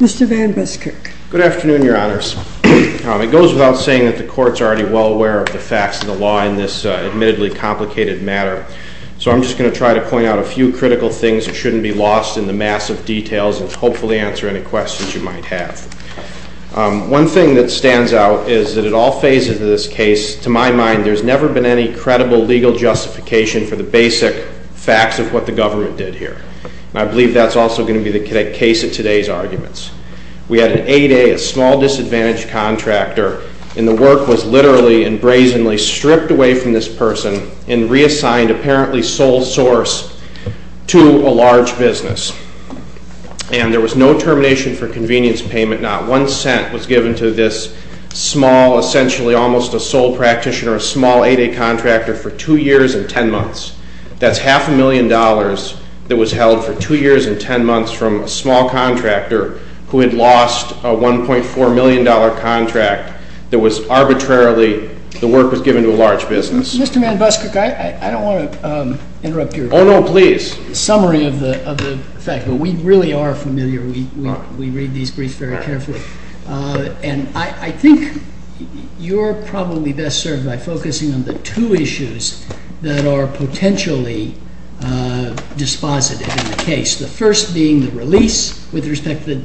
Mr. Van Buskirk. Good afternoon, your honors. It goes without saying that the courts are already well aware of the facts of the law in this admittedly complicated matter, so I'm just going to try to point out a few critical things that shouldn't be lost in the massive details and hopefully answer any questions you might have. One thing that stands out is that at all phases of this case, to my mind, there's never been any credible legal justification for the basic facts of what the government did here, and I believe that's also going to be the case of today's arguments. We had an 8A, a small disadvantaged contractor, and the work was literally and brazenly stripped away from this person and reassigned, apparently sole source, to a large business. And there was no termination for convenience payment, not one cent was given to this small, essentially almost a sole practitioner, small 8A contractor for two years and ten months. That's half a million dollars that was held for two years and ten months from a small contractor who had lost a $1.4 million contract that was arbitrarily, the work was given to a large business. Mr. Manbuskirk, I don't want to interrupt your summary of the fact, but we really are familiar, we read these briefs very carefully, and I think you're probably best served by focusing on the two issues that are potentially dispositive in the case. The first being the release with respect to the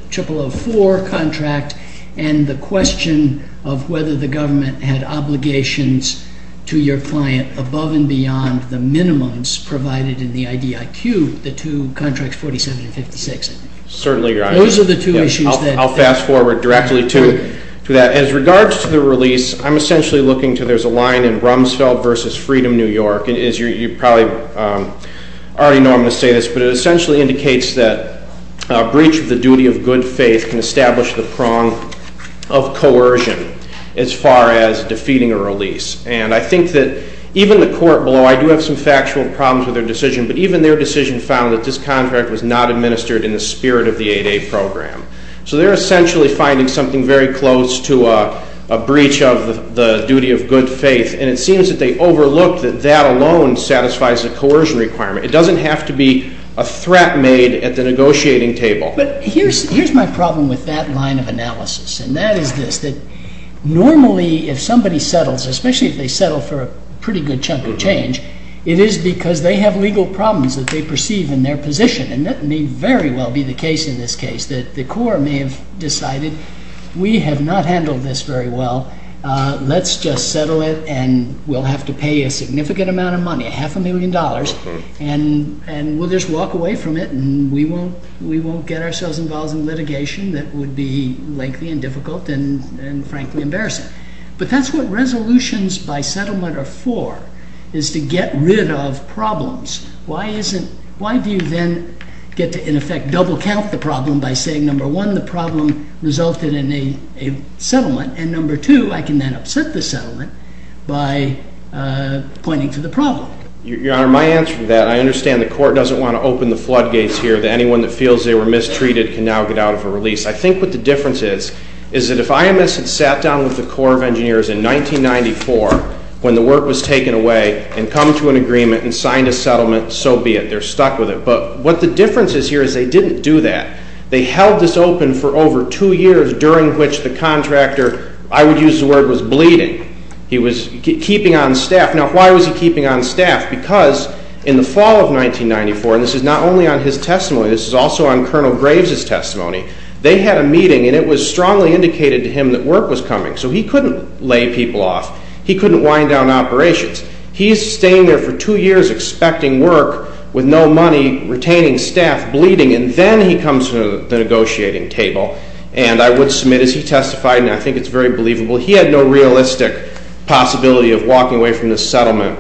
0004 contract and the question of whether the government had obligations to your client above and beyond the minimums provided in the IDIQ, the two contracts, 47 and 56. Certainly, Your Honor. Those are the two issues that... I'll fast forward directly to that. As regards to the release, I'm essentially looking to, there's a line in Rumsfeld versus Freedom New York. You probably already know I'm going to say this, but it essentially indicates that a breach of the duty of good faith can establish the prong of coercion as far as defeating a release. And I think that even the court below, I do have some factual problems with their decision, but even their decision found that this contract was not administered in the spirit of the 8A program. So they're essentially finding something very close to a breach of the duty of good faith, and it seems that they overlooked that that alone satisfies a coercion requirement. It doesn't have to be a threat made at the negotiating table. But here's my problem with that line of analysis, and that is this, that normally if somebody settles, especially if they settle for a pretty good chunk of change, it is because they have legal problems that they perceive in their position. And that may very well be the case in this case, that the court may have decided we have not handled this very well. Let's just settle it, and we'll have to pay a significant amount of money, half a million dollars, and we'll just walk away from it, and we won't get ourselves involved in litigation that would be lengthy and difficult and frankly embarrassing. But that's what resolutions by settlement are for, is to get rid of problems. Why do you then get to, in effect, double count the problem by saying, number one, the problem resulted in a settlement, and number two, I can then upset the settlement by pointing to the problem? Your Honor, my answer to that, I understand the court doesn't want to open the floodgates here that anyone that feels they were mistreated can now get out of a release. I think what the difference is, is that if IMS had sat down with the Corps of Engineers in 1994 when the work was taken away and come to an agreement and signed a settlement, so be it. They're stuck with it. But what the difference is here is they didn't do that. They held this open for over two years, during which the contractor, I would use the word, was bleeding. He was keeping on staff. Now, why was he keeping on staff? Because in the fall of 1994, and this is not only on his testimony, this is also on Colonel Graves' testimony, they had a meeting and it was strongly indicated to him that work was coming. So he couldn't lay people off. He couldn't wind down operations. He's staying there for two years expecting work with no money, retaining staff, bleeding, and then he comes to the negotiating table. And I would submit, as he testified, and I think it's very believable, he had no realistic possibility of walking away from this settlement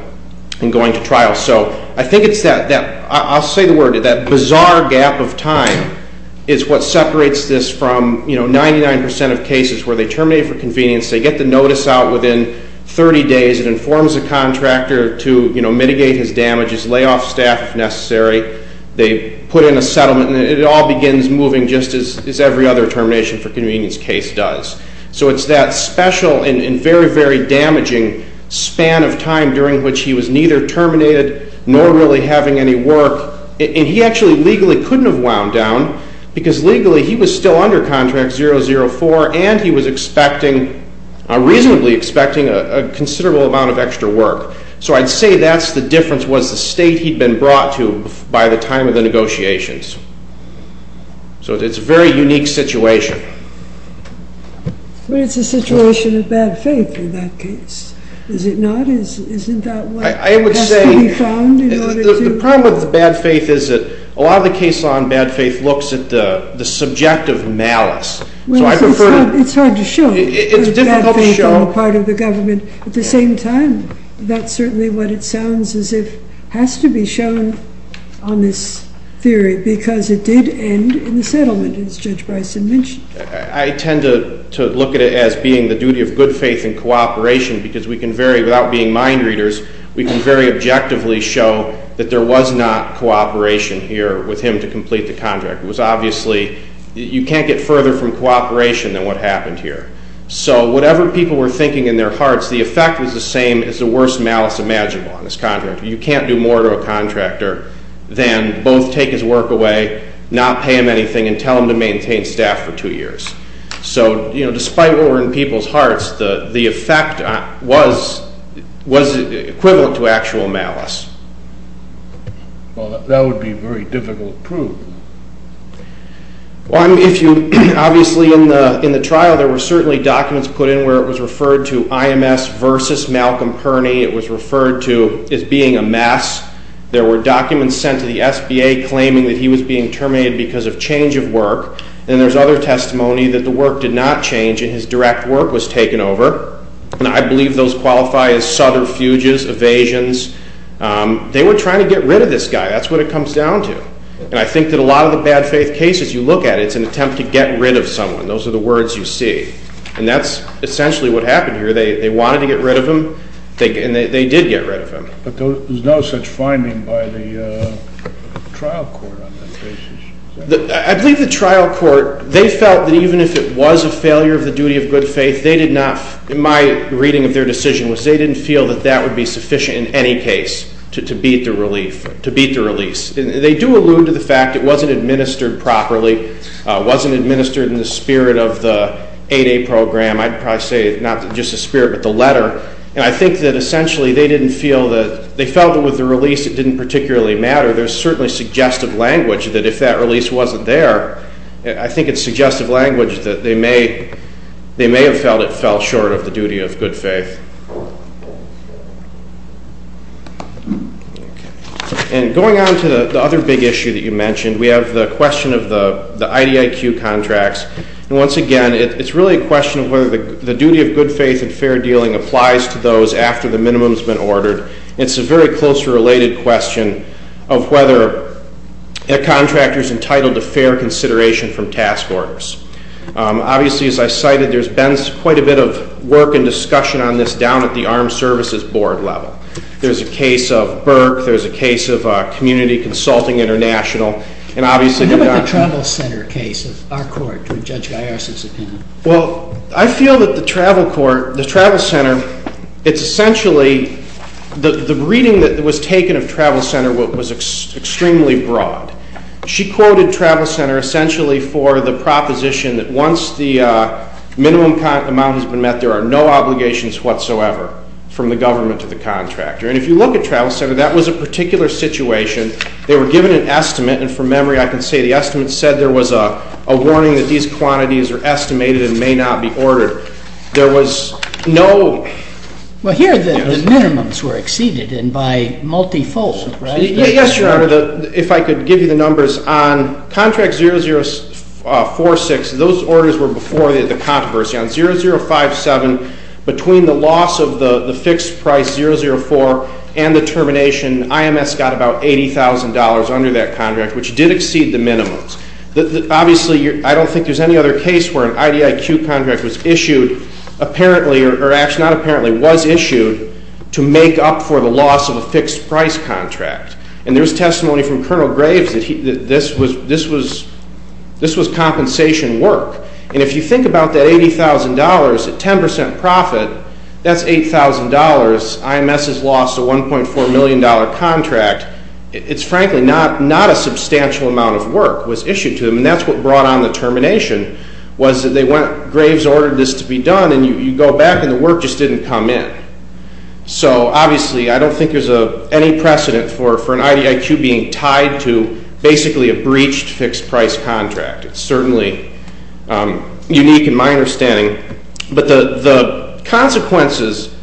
and going to trial. So I think it's that, I'll say the word, that bizarre gap of time is what separates this from 99% of cases where they terminate for convenience, they get the notice out within 30 days, it informs the contractor to mitigate his damages, lay off staff if necessary, they put in a settlement, and it all begins moving just as every other termination for convenience case does. So it's that special and very, very damaging span of time during which he was neither terminated nor really having any work. And he actually legally couldn't have wound down because legally he was still under contract 004 and he was expecting, reasonably expecting, a considerable amount of extra work. So I'd say that's the difference was the state he'd been brought to by the time of the negotiations. So it's a very unique situation. But it's a situation of bad faith in that case, is it not? I would say the problem with bad faith is that a lot of the case law on bad faith looks at the subjective malice. It's hard to show. It's difficult to show. At the same time, that's certainly what it sounds as if has to be shown on this theory because it did end in the settlement, as Judge Bryson mentioned. I tend to look at it as being the duty of good faith and cooperation because we can very, without being mind readers, we can very objectively show that there was not cooperation here with him to complete the contract. It was obviously, you can't get further from cooperation than what happened here. So whatever people were thinking in their hearts, the effect was the same as the worst malice imaginable on this contractor. You can't do more to a contractor than both take his work away, not pay him anything, and tell him to maintain staff for two years. So despite what were in people's hearts, the effect was equivalent to actual malice. Well, that would be very difficult to prove. Well, if you, obviously in the trial, there were certainly documents put in where it was referred to IMS versus Malcolm Perny. It was referred to as being a mess. There were documents sent to the SBA claiming that he was being terminated because of change of work. And there's other testimony that the work did not change and his direct work was taken over. And I believe those qualify as sudden fuges, evasions. They were trying to get rid of this guy. That's what it comes down to. And I think that a lot of the bad faith cases you look at, it's an attempt to get rid of someone. Those are the words you see. And that's essentially what happened here. They wanted to get rid of him, and they did get rid of him. But there's no such finding by the trial court on that case. I believe the trial court, they felt that even if it was a failure of the duty of good faith, they did not, my reading of their decision was they didn't feel that that would be sufficient in any case to beat the relief, to beat the release. They do allude to the fact it wasn't administered properly, wasn't administered in the spirit of the 8A program. I'd probably say not just the spirit but the letter. And I think that essentially they didn't feel that, they felt that with the release it didn't particularly matter. There's certainly suggestive language that if that release wasn't there, I think it's suggestive language that they may have felt it fell short of the duty of good faith. Okay. And going on to the other big issue that you mentioned, we have the question of the IDIQ contracts. And once again, it's really a question of whether the duty of good faith and fair dealing applies to those after the minimum's been ordered. It's a very closely related question of whether a contractor's entitled to fair consideration from task orders. Obviously, as I cited, there's been quite a bit of work and discussion on this down at the Armed Services Board level. There's a case of Burke. There's a case of Community Consulting International. And obviously- So how about the Travel Center case of our court, Judge Gaius's opinion? Well, I feel that the Travel Center, it's essentially, the reading that was taken of Travel Center was extremely broad. She quoted Travel Center essentially for the proposition that once the minimum amount has been met, there are no obligations whatsoever from the government to the contractor. And if you look at Travel Center, that was a particular situation. They were given an estimate. And from memory, I can say the estimate said there was a warning that these quantities are estimated and may not be ordered. There was no- Well, here the minimums were exceeded and by multifold, right? Yes, Your Honor. If I could give you the numbers. On contract 0046, those orders were before the controversy. On 0057, between the loss of the fixed price, 004, and the termination, IMS got about $80,000 under that contract, which did exceed the minimums. Obviously, I don't think there's any other case where an IDIQ contract was issued, apparently, or actually not apparently, was issued to make up for the loss of a fixed price contract. And there was testimony from Colonel Graves that this was compensation work. And if you think about that $80,000 at 10% profit, that's $8,000. IMS has lost a $1.4 million contract. It's frankly not a substantial amount of work was issued to them, and that's what brought on the termination, was that Graves ordered this to be done, and you go back and the work just didn't come in. So obviously, I don't think there's any precedent for an IDIQ being tied to basically a breached fixed price contract. But the consequences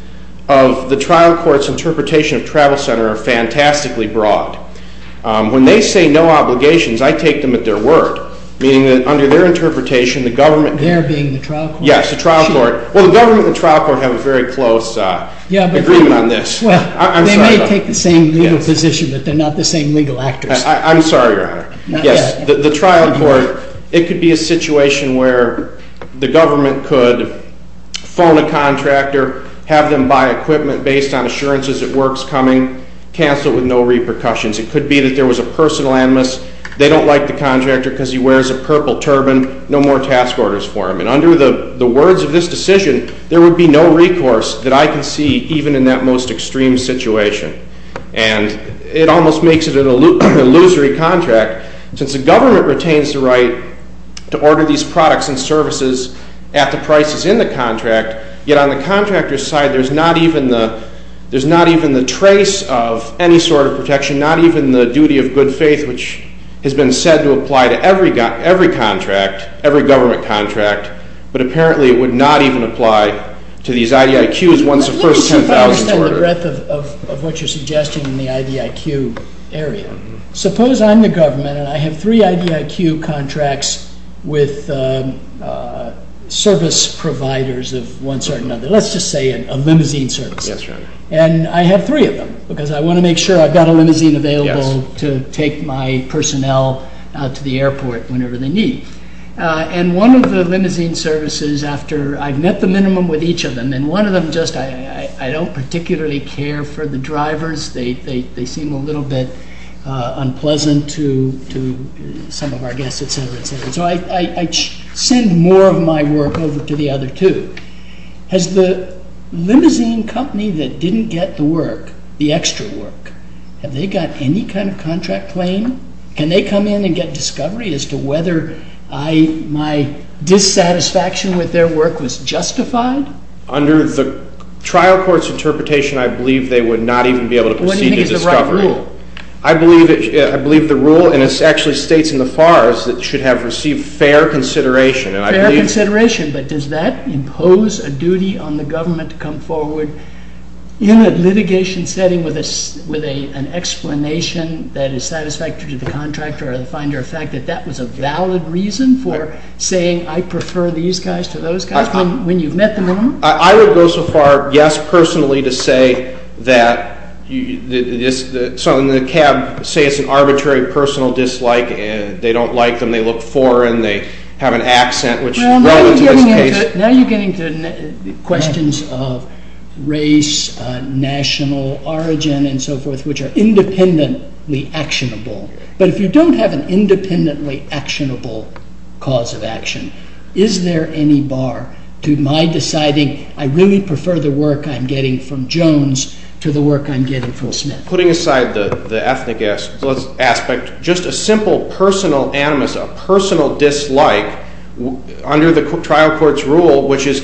of the trial court's interpretation of Travel Center are fantastically broad. When they say no obligations, I take them at their word, meaning that under their interpretation, the government- There being the trial court? Yes, the trial court. Well, the government and the trial court have a very close agreement on this. Well, they may take the same legal position, but they're not the same legal actors. I'm sorry, Your Honor. Yes, the trial court, it could be a situation where the government could phone a contractor, have them buy equipment based on assurances that work's coming, cancel it with no repercussions. It could be that there was a personal animus, they don't like the contractor because he wears a purple turban, no more task orders for him. And under the words of this decision, there would be no recourse that I can see even in that most extreme situation. And it almost makes it an illusory contract. Since the government retains the right to order these products and services at the prices in the contract, yet on the contractor's side, there's not even the trace of any sort of protection, not even the duty of good faith, which has been said to apply to every contract, every government contract, but apparently it would not even apply to these IDIQs once the first $10,000 is ordered. I understand the breadth of what you're suggesting in the IDIQ area. Suppose I'm the government and I have three IDIQ contracts with service providers of one sort or another. Let's just say a limousine service. And I have three of them because I want to make sure I've got a limousine available to take my personnel out to the airport whenever they need. And one of the limousine services, after I've met the minimum with each of them, and one of them just I don't particularly care for the drivers. They seem a little bit unpleasant to some of our guests, etc., etc. So I send more of my work over to the other two. Has the limousine company that didn't get the work, the extra work, have they got any kind of contract claim? Can they come in and get discovery as to whether my dissatisfaction with their work was justified? Under the trial court's interpretation, I believe they would not even be able to proceed to discovery. What do you think is the right rule? I believe the rule, and it actually states in the FARS, that it should have received fair consideration. Fair consideration, but does that impose a duty on the government to come forward in a litigation setting with an explanation that is satisfactory to the contractor or the finder of fact that that was a valid reason for saying I prefer these guys to those guys? When you've met the minimum? I would go so far, yes, personally, to say that the cab, say it's an arbitrary personal dislike. They don't like them. They look foreign. They have an accent, which relevant to this case. Now you're getting to questions of race, national origin, and so forth, which are independently actionable. But if you don't have an independently actionable cause of action, is there any bar to my deciding I really prefer the work I'm getting from Jones to the work I'm getting from Smith? Putting aside the ethnic aspect, just a simple personal animus, a personal dislike, under the trial court's rule, which is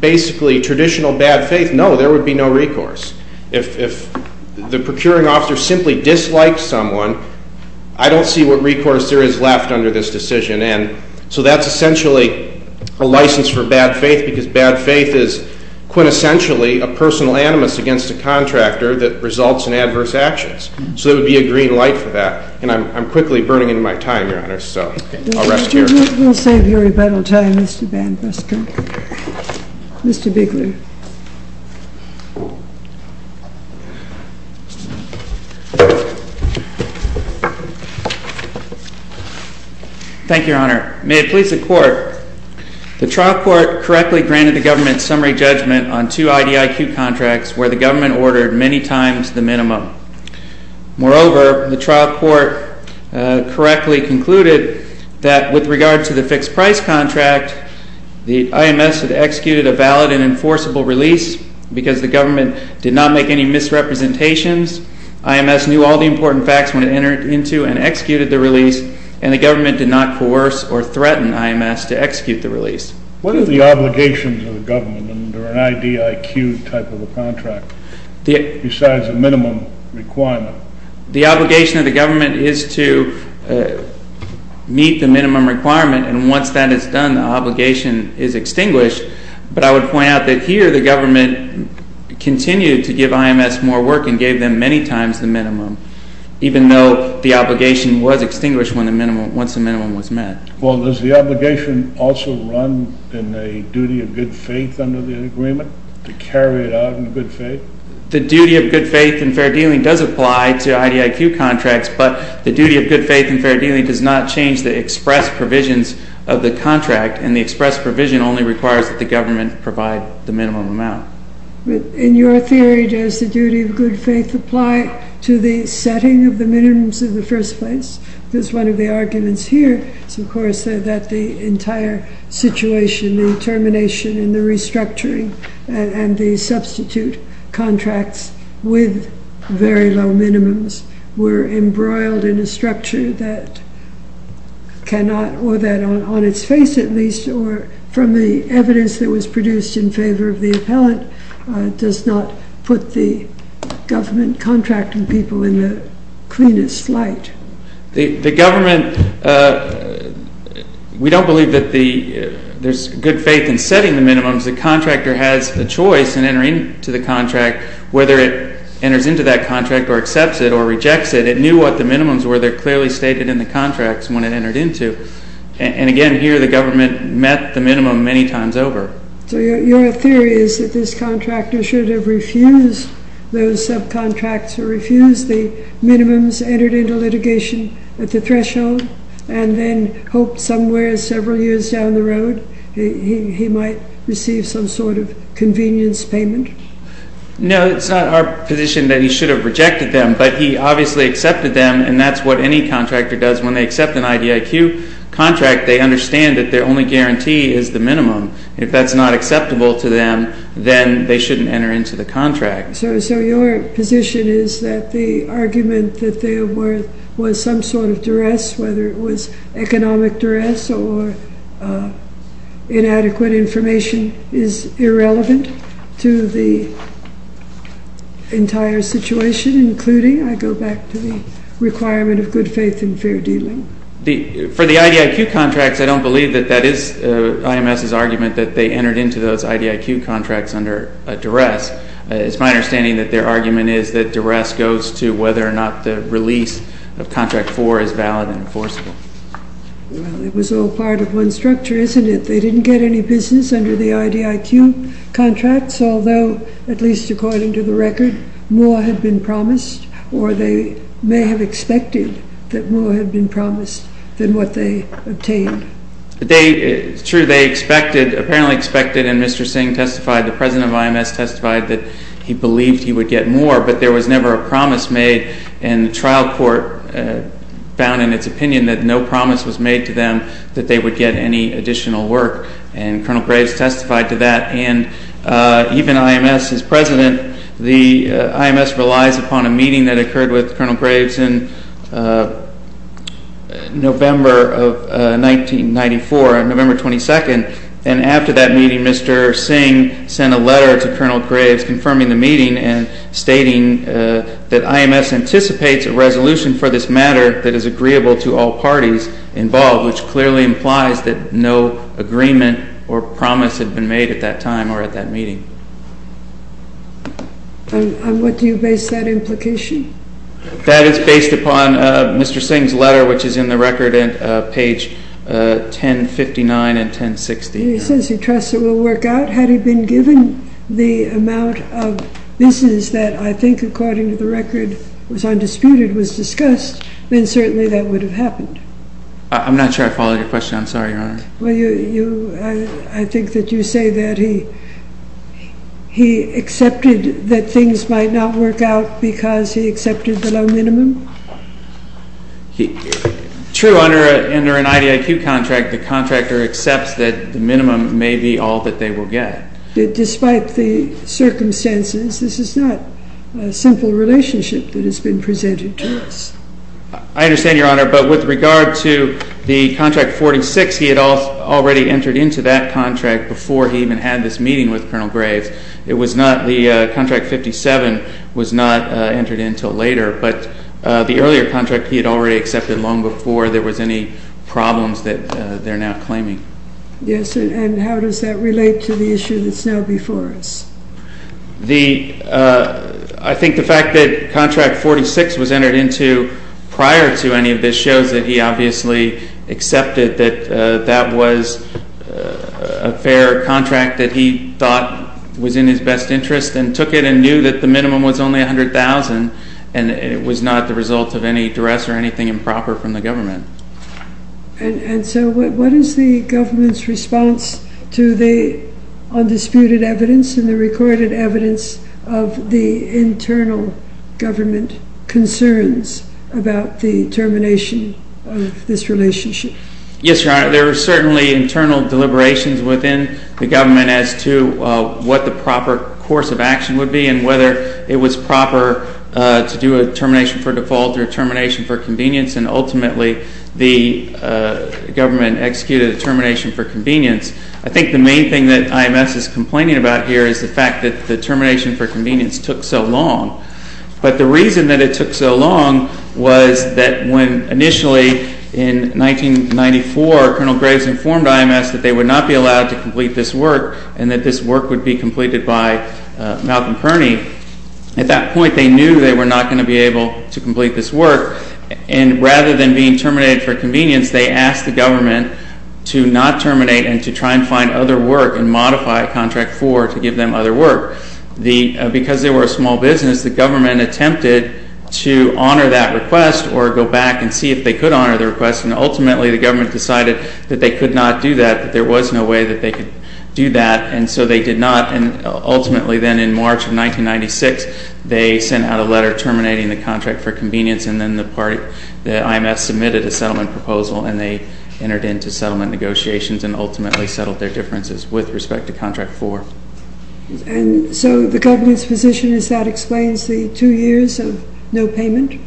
basically traditional bad faith, no, there would be no recourse. If the procuring officer simply dislikes someone, I don't see what recourse there is left under this decision. And so that's essentially a license for bad faith, because bad faith is quintessentially a personal animus against a contractor that results in adverse actions. So there would be a green light for that. And I'm quickly burning into my time, Your Honor, so I'll rest here. We'll save your rebuttal time, Mr. Banfuster. Mr. Biggler. Thank you. Thank you, Your Honor. May it please the Court, the trial court correctly granted the government summary judgment on two IDIQ contracts where the government ordered many times the minimum. Moreover, the trial court correctly concluded that with regard to the fixed price contract, the IMS had executed a valid and enforceable release because the government did not make any misrepresentations. IMS knew all the important facts when it entered into and executed the release, and the government did not coerce or threaten IMS to execute the release. What are the obligations of the government under an IDIQ type of a contract besides the minimum requirement? The obligation of the government is to meet the minimum requirement, and once that is done, the obligation is extinguished. But I would point out that here the government continued to give IMS more work and gave them many times the minimum, even though the obligation was extinguished once the minimum was met. Well, does the obligation also run in a duty of good faith under the agreement, to carry it out in good faith? The duty of good faith in fair dealing does apply to IDIQ contracts, but the duty of good faith in fair dealing does not change the express provisions of the contract, and the express provision only requires that the government provide the minimum amount. In your theory, does the duty of good faith apply to the setting of the minimums in the first place? Because one of the arguments here is, of course, that the entire situation, the termination and the restructuring and the substitute contracts with very low minimums, were embroiled in a structure that cannot, or that on its face at least, or from the evidence that was produced in favor of the appellant, does not put the government contracting people in the cleanest light. The government, we don't believe that there's good faith in setting the minimums. The contractor has a choice in entering into the contract, whether it enters into that contract or accepts it or rejects it. It knew what the minimums were. They're clearly stated in the contracts when it entered into. And again, here the government met the minimum many times over. So your theory is that this contractor should have refused those subcontracts, or refused the minimums, entered into litigation at the threshold, and then hoped somewhere several years down the road he might receive some sort of convenience payment? No, it's not our position that he should have rejected them, but he obviously accepted them, and that's what any contractor does when they accept an IDIQ contract. They understand that their only guarantee is the minimum. If that's not acceptable to them, then they shouldn't enter into the contract. So your position is that the argument that there was some sort of duress, whether it was economic duress or inadequate information, is irrelevant to the entire situation, including, I go back to the requirement of good faith and fair dealing? For the IDIQ contracts, I don't believe that that is IMS's argument that they entered into those IDIQ contracts under a duress. It's my understanding that their argument is that duress goes to whether or not the release of Contract 4 is valid and enforceable. Well, it was all part of one structure, isn't it? They didn't get any business under the IDIQ contracts, although, at least according to the record, more had been promised, or they may have expected that more had been promised than what they obtained. It's true, they apparently expected, and Mr. Singh testified, the president of IMS testified, that he believed he would get more, but there was never a promise made. And the trial court found in its opinion that no promise was made to them that they would get any additional work. And Colonel Graves testified to that. And even IMS's president, the IMS relies upon a meeting that occurred with Colonel Graves in November of 1994, November 22nd. And after that meeting, Mr. Singh sent a letter to Colonel Graves confirming the meeting and stating that IMS anticipates a resolution for this matter that is agreeable to all parties involved, which clearly implies that no agreement or promise had been made at that time or at that meeting. And what do you base that implication? That is based upon Mr. Singh's letter, which is in the record, page 1059 and 1060. He says he trusts it will work out. Had he been given the amount of business that I think, according to the record, was undisputed, was discussed, then certainly that would have happened. I'm not sure I followed your question. I'm sorry, Your Honor. Well, I think that you say that he accepted that things might not work out because he accepted the low minimum? True, under an IDIQ contract, the contractor accepts that the minimum may be all that they will get. Despite the circumstances, this is not a simple relationship that has been presented to us. I understand, Your Honor, but with regard to the Contract 46, he had already entered into that contract before he even had this meeting with Colonel Graves. The Contract 57 was not entered in until later, but the earlier contract he had already accepted long before there was any problems that they're now claiming. Yes, and how does that relate to the issue that's now before us? I think the fact that Contract 46 was entered into prior to any of this shows that he obviously accepted that that was a fair contract that he thought was in his best interest and took it and knew that the minimum was only $100,000 and it was not the result of any duress or anything improper from the government. And so what is the government's response to the undisputed evidence and the recorded evidence of the internal government concerns about the termination of this relationship? Yes, Your Honor, there are certainly internal deliberations within the government as to what the proper course of action would be and whether it was proper to do a termination for default or termination for convenience and ultimately the government executed a termination for convenience. I think the main thing that IMS is complaining about here is the fact that the termination for convenience took so long. But the reason that it took so long was that when initially in 1994 Colonel Graves informed IMS that they would not be allowed to complete this work and that this work would be completed by Malcolm Kearney, at that point they knew they were not going to be able to complete this work and rather than being terminated for convenience, they asked the government to not terminate and to try and find other work and modify contract 4 to give them other work. Because they were a small business, the government attempted to honor that request or go back and see if they could honor the request and ultimately the government decided that they could not do that, that there was no way that they could do that and so they did not and ultimately then in March of 1996, they sent out a letter terminating the contract for convenience and then the IMS submitted a settlement proposal and they entered into settlement negotiations and ultimately settled their differences with respect to contract 4. And so the government's position is that explains the two years of no payment?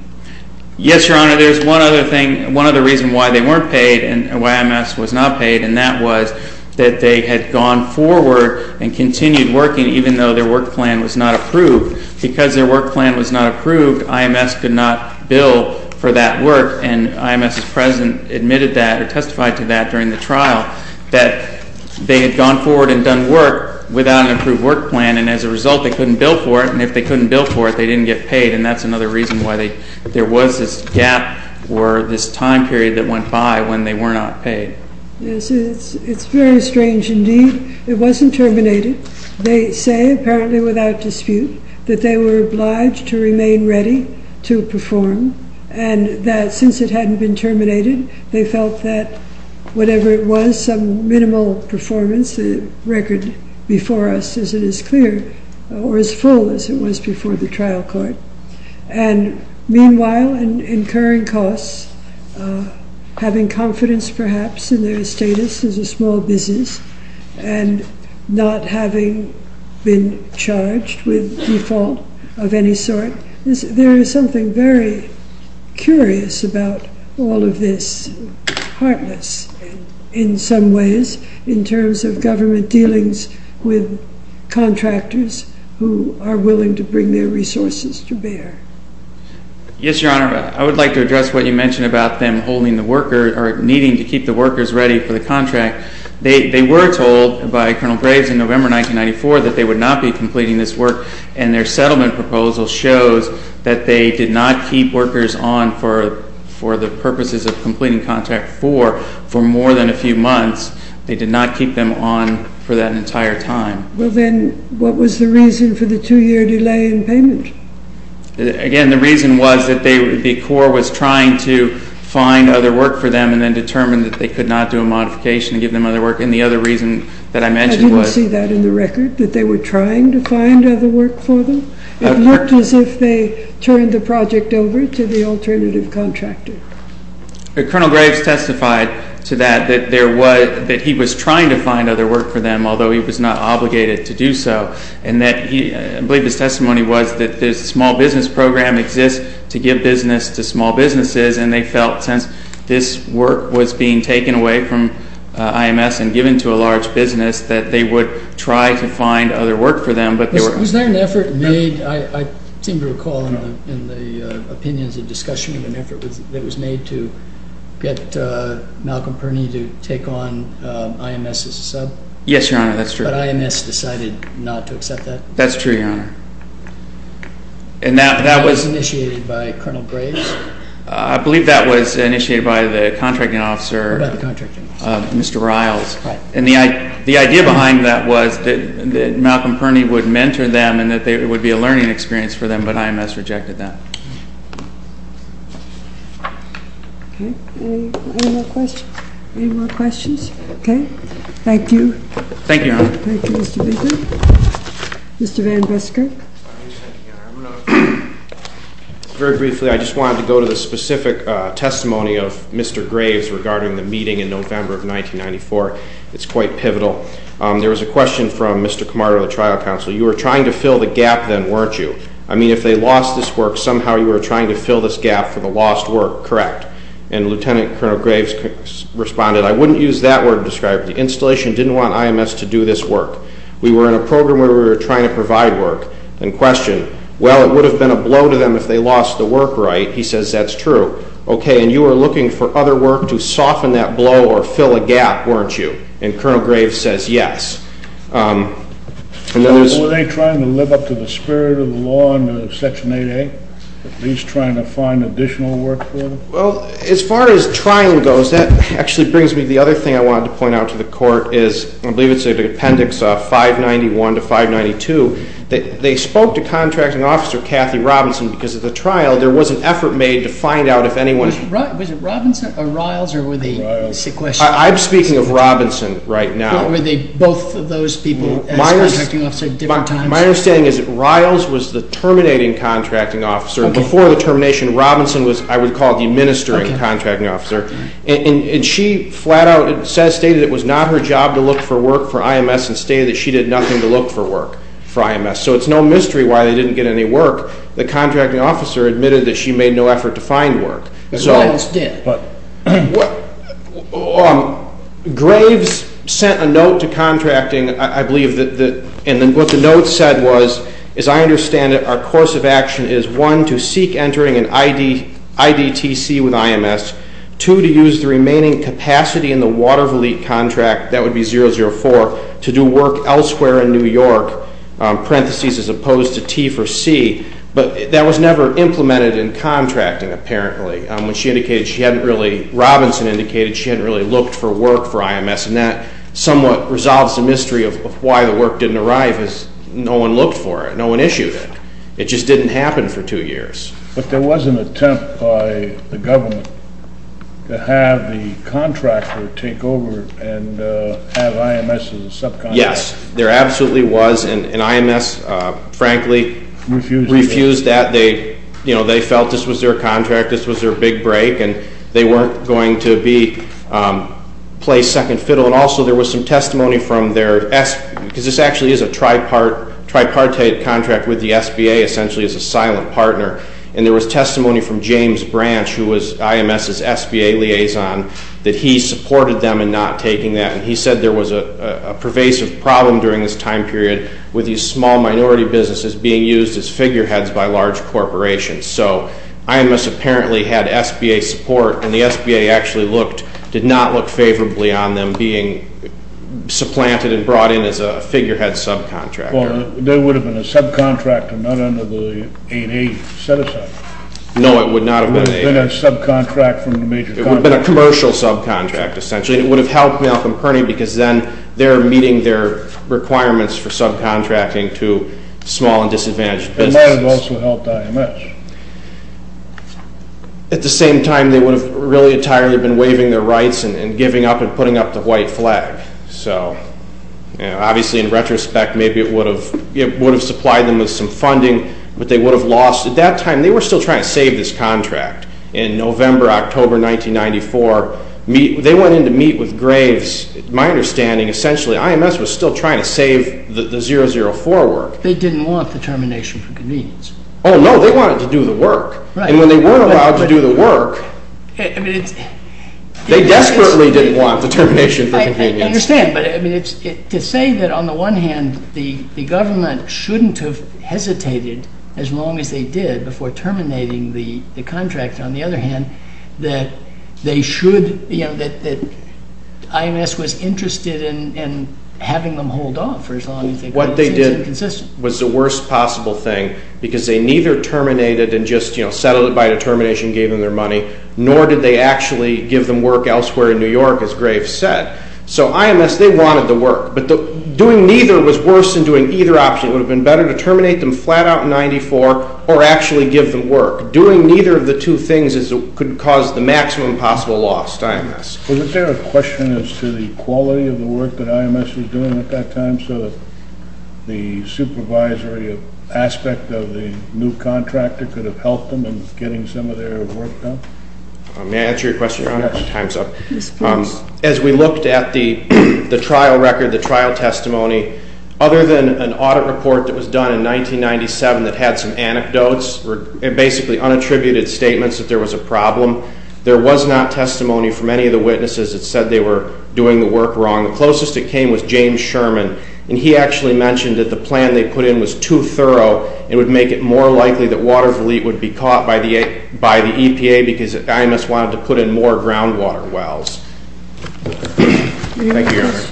Yes, Your Honor. There's one other thing, one other reason why they weren't paid and why IMS was not paid and that was that they had gone forward and continued working even though their work plan was not approved. Because their work plan was not approved, IMS could not bill for that work and IMS's president admitted that or testified to that during the trial that they had gone forward and done work without an approved work plan and as a result they couldn't bill for it and if they couldn't bill for it, they didn't get paid and that's another reason why there was this gap or this time period that went by when they were not paid. Yes, it's very strange indeed. It wasn't terminated. They say, apparently without dispute, that they were obliged to remain ready to perform and that since it hadn't been terminated, they felt that whatever it was, some minimal performance, the record before us as it is clear, or as full as it was before the trial court and meanwhile in incurring costs, having confidence perhaps in their status as a small business and not having been charged with default of any sort, there is something very curious about all of this, heartless in some ways in terms of government dealings with contractors who are willing to bring their resources to bear. Yes, Your Honor. I would like to address what you mentioned about them holding the worker or needing to keep the workers ready for the contract. They were told by Colonel Graves in November 1994 that they would not be completing this work and their settlement proposal shows that they did not keep workers on for the purposes of completing contract four for more than a few months. They did not keep them on for that entire time. Well then, what was the reason for the two-year delay in payment? Again, the reason was that the Corps was trying to find other work for them and then determined that they could not do a modification and give them other work, and the other reason that I mentioned was... I didn't see that in the record, that they were trying to find other work for them? It looked as if they turned the project over to the alternative contractor. Colonel Graves testified to that, that he was trying to find other work for them, although he was not obligated to do so, and I believe his testimony was that this small business program exists to give business to small businesses, and they felt since this work was being taken away from IMS and given to a large business, that they would try to find other work for them. Was there an effort made, I seem to recall in the opinions and discussion, an effort that was made to get Malcolm Purney to take on IMS as a sub? Yes, Your Honor, that's true. But IMS decided not to accept that? That's true, Your Honor. And that was initiated by Colonel Graves? I believe that was initiated by the contracting officer, Mr. Riles. Right. And the idea behind that was that Malcolm Purney would mentor them and that it would be a learning experience for them, but IMS rejected that. Okay. Any more questions? Any more questions? Okay. Thank you. Thank you, Your Honor. Thank you, Mr. Baker. Mr. Van Busker? Very briefly, I just wanted to go to the specific testimony of Mr. Graves regarding the meeting in November of 1994. It's quite pivotal. There was a question from Mr. Camargo of the trial counsel. You were trying to fill the gap then, weren't you? I mean, if they lost this work, somehow you were trying to fill this gap for the lost work, correct? And Lieutenant Colonel Graves responded, I wouldn't use that word to describe it. The installation didn't want IMS to do this work. We were in a program where we were trying to provide work, in question. Well, it would have been a blow to them if they lost the work, right? He says that's true. Okay, and you were looking for other work to soften that blow or fill a gap, weren't you? And Colonel Graves says yes. Were they trying to live up to the spirit of the law in Section 8A? At least trying to find additional work for them? Well, as far as trying goes, that actually brings me to the other thing I wanted to point out to the Court is, I believe it's Appendix 591 to 592, that they spoke to Contracting Officer Kathy Robinson because of the trial. There was an effort made to find out if anyone – Was it Robinson or Riles or were they sequestered? I'm speaking of Robinson right now. Were they both of those people as Contracting Officer at different times? My understanding is that Riles was the terminating Contracting Officer. Before the termination, Robinson was, I would call, the administering Contracting Officer. And she flat out stated it was not her job to look for work for IMS and stated that she did nothing to look for work for IMS. So it's no mystery why they didn't get any work. The Contracting Officer admitted that she made no effort to find work. Riles did. Graves sent a note to Contracting, I believe, and what the note said was, as I understand it, our course of action is, one, to seek entering an IDTC with IMS, two, to use the remaining capacity in the Water Volite contract, that would be 004, to do work elsewhere in New York, parentheses, as opposed to T for C. But that was never implemented in contracting, apparently. When she indicated she hadn't really – Robinson indicated she hadn't really looked for work for IMS. And that somewhat resolves the mystery of why the work didn't arrive because no one looked for it. No one issued it. It just didn't happen for two years. But there was an attempt by the government to have the contractor take over and have IMS as a subcontractor. Yes, there absolutely was. And IMS, frankly, refused that. They felt this was their contract, this was their big break, and they weren't going to play second fiddle. And also there was some testimony from their – because this actually is a tripartite contract with the SBA, essentially as a silent partner. And there was testimony from James Branch, who was IMS's SBA liaison, that he supported them in not taking that. And he said there was a pervasive problem during this time period with these small minority businesses being used as figureheads by large corporations. So IMS apparently had SBA support, and the SBA actually looked – did not look favorably on them being supplanted and brought in as a figurehead subcontractor. Well, there would have been a subcontractor not under the 8A set-aside. No, it would not have been 8A. It would have been a subcontract from a major company. It would have been a commercial subcontract, essentially. It would have helped Malcolm Kearney because then they're meeting their requirements for subcontracting to small and disadvantaged businesses. It may have also helped IMS. At the same time, they would have really entirely been waiving their rights and giving up and putting up the white flag. So obviously in retrospect, maybe it would have supplied them with some funding, but they would have lost. At that time, they were still trying to save this contract. In November, October 1994, they went in to meet with Graves. My understanding, essentially, IMS was still trying to save the 004 work. They didn't want the termination for convenience. Oh, no, they wanted to do the work. And when they weren't allowed to do the work, they desperately didn't want the termination for convenience. I understand, but to say that on the one hand, the government shouldn't have hesitated as long as they did before terminating the contract, on the other hand, that they should, you know, that IMS was interested in having them hold off for as long as they could. What they did was the worst possible thing because they neither terminated and just, you know, settled it by a termination and gave them their money, nor did they actually give them work elsewhere in New York, as Graves said. So IMS, they wanted the work, but doing neither was worse than doing either option. It would have been better to terminate them flat out in 1994 or actually give them work. Doing neither of the two things could cause the maximum possible loss to IMS. Was there a question as to the quality of the work that IMS was doing at that time so that the supervisory aspect of the new contractor could have helped them in getting some of their work done? May I answer your question, Your Honor? Time's up. As we looked at the trial record, the trial testimony, other than an audit report that was done in 1997 that had some anecdotes, basically unattributed statements that there was a problem, there was not testimony from any of the witnesses that said they were doing the work wrong. The closest it came was James Sherman, and he actually mentioned that the plan they put in was too thorough and would make it more likely that Water Volite would be caught by the EPA because IMS wanted to put in more groundwater wells. Thank you, Your Honor.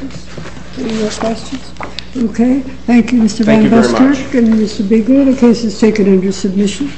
Any more questions? Thank you, Mr. Van Buskirk and Mr. Bigelow. The case is taken under submission.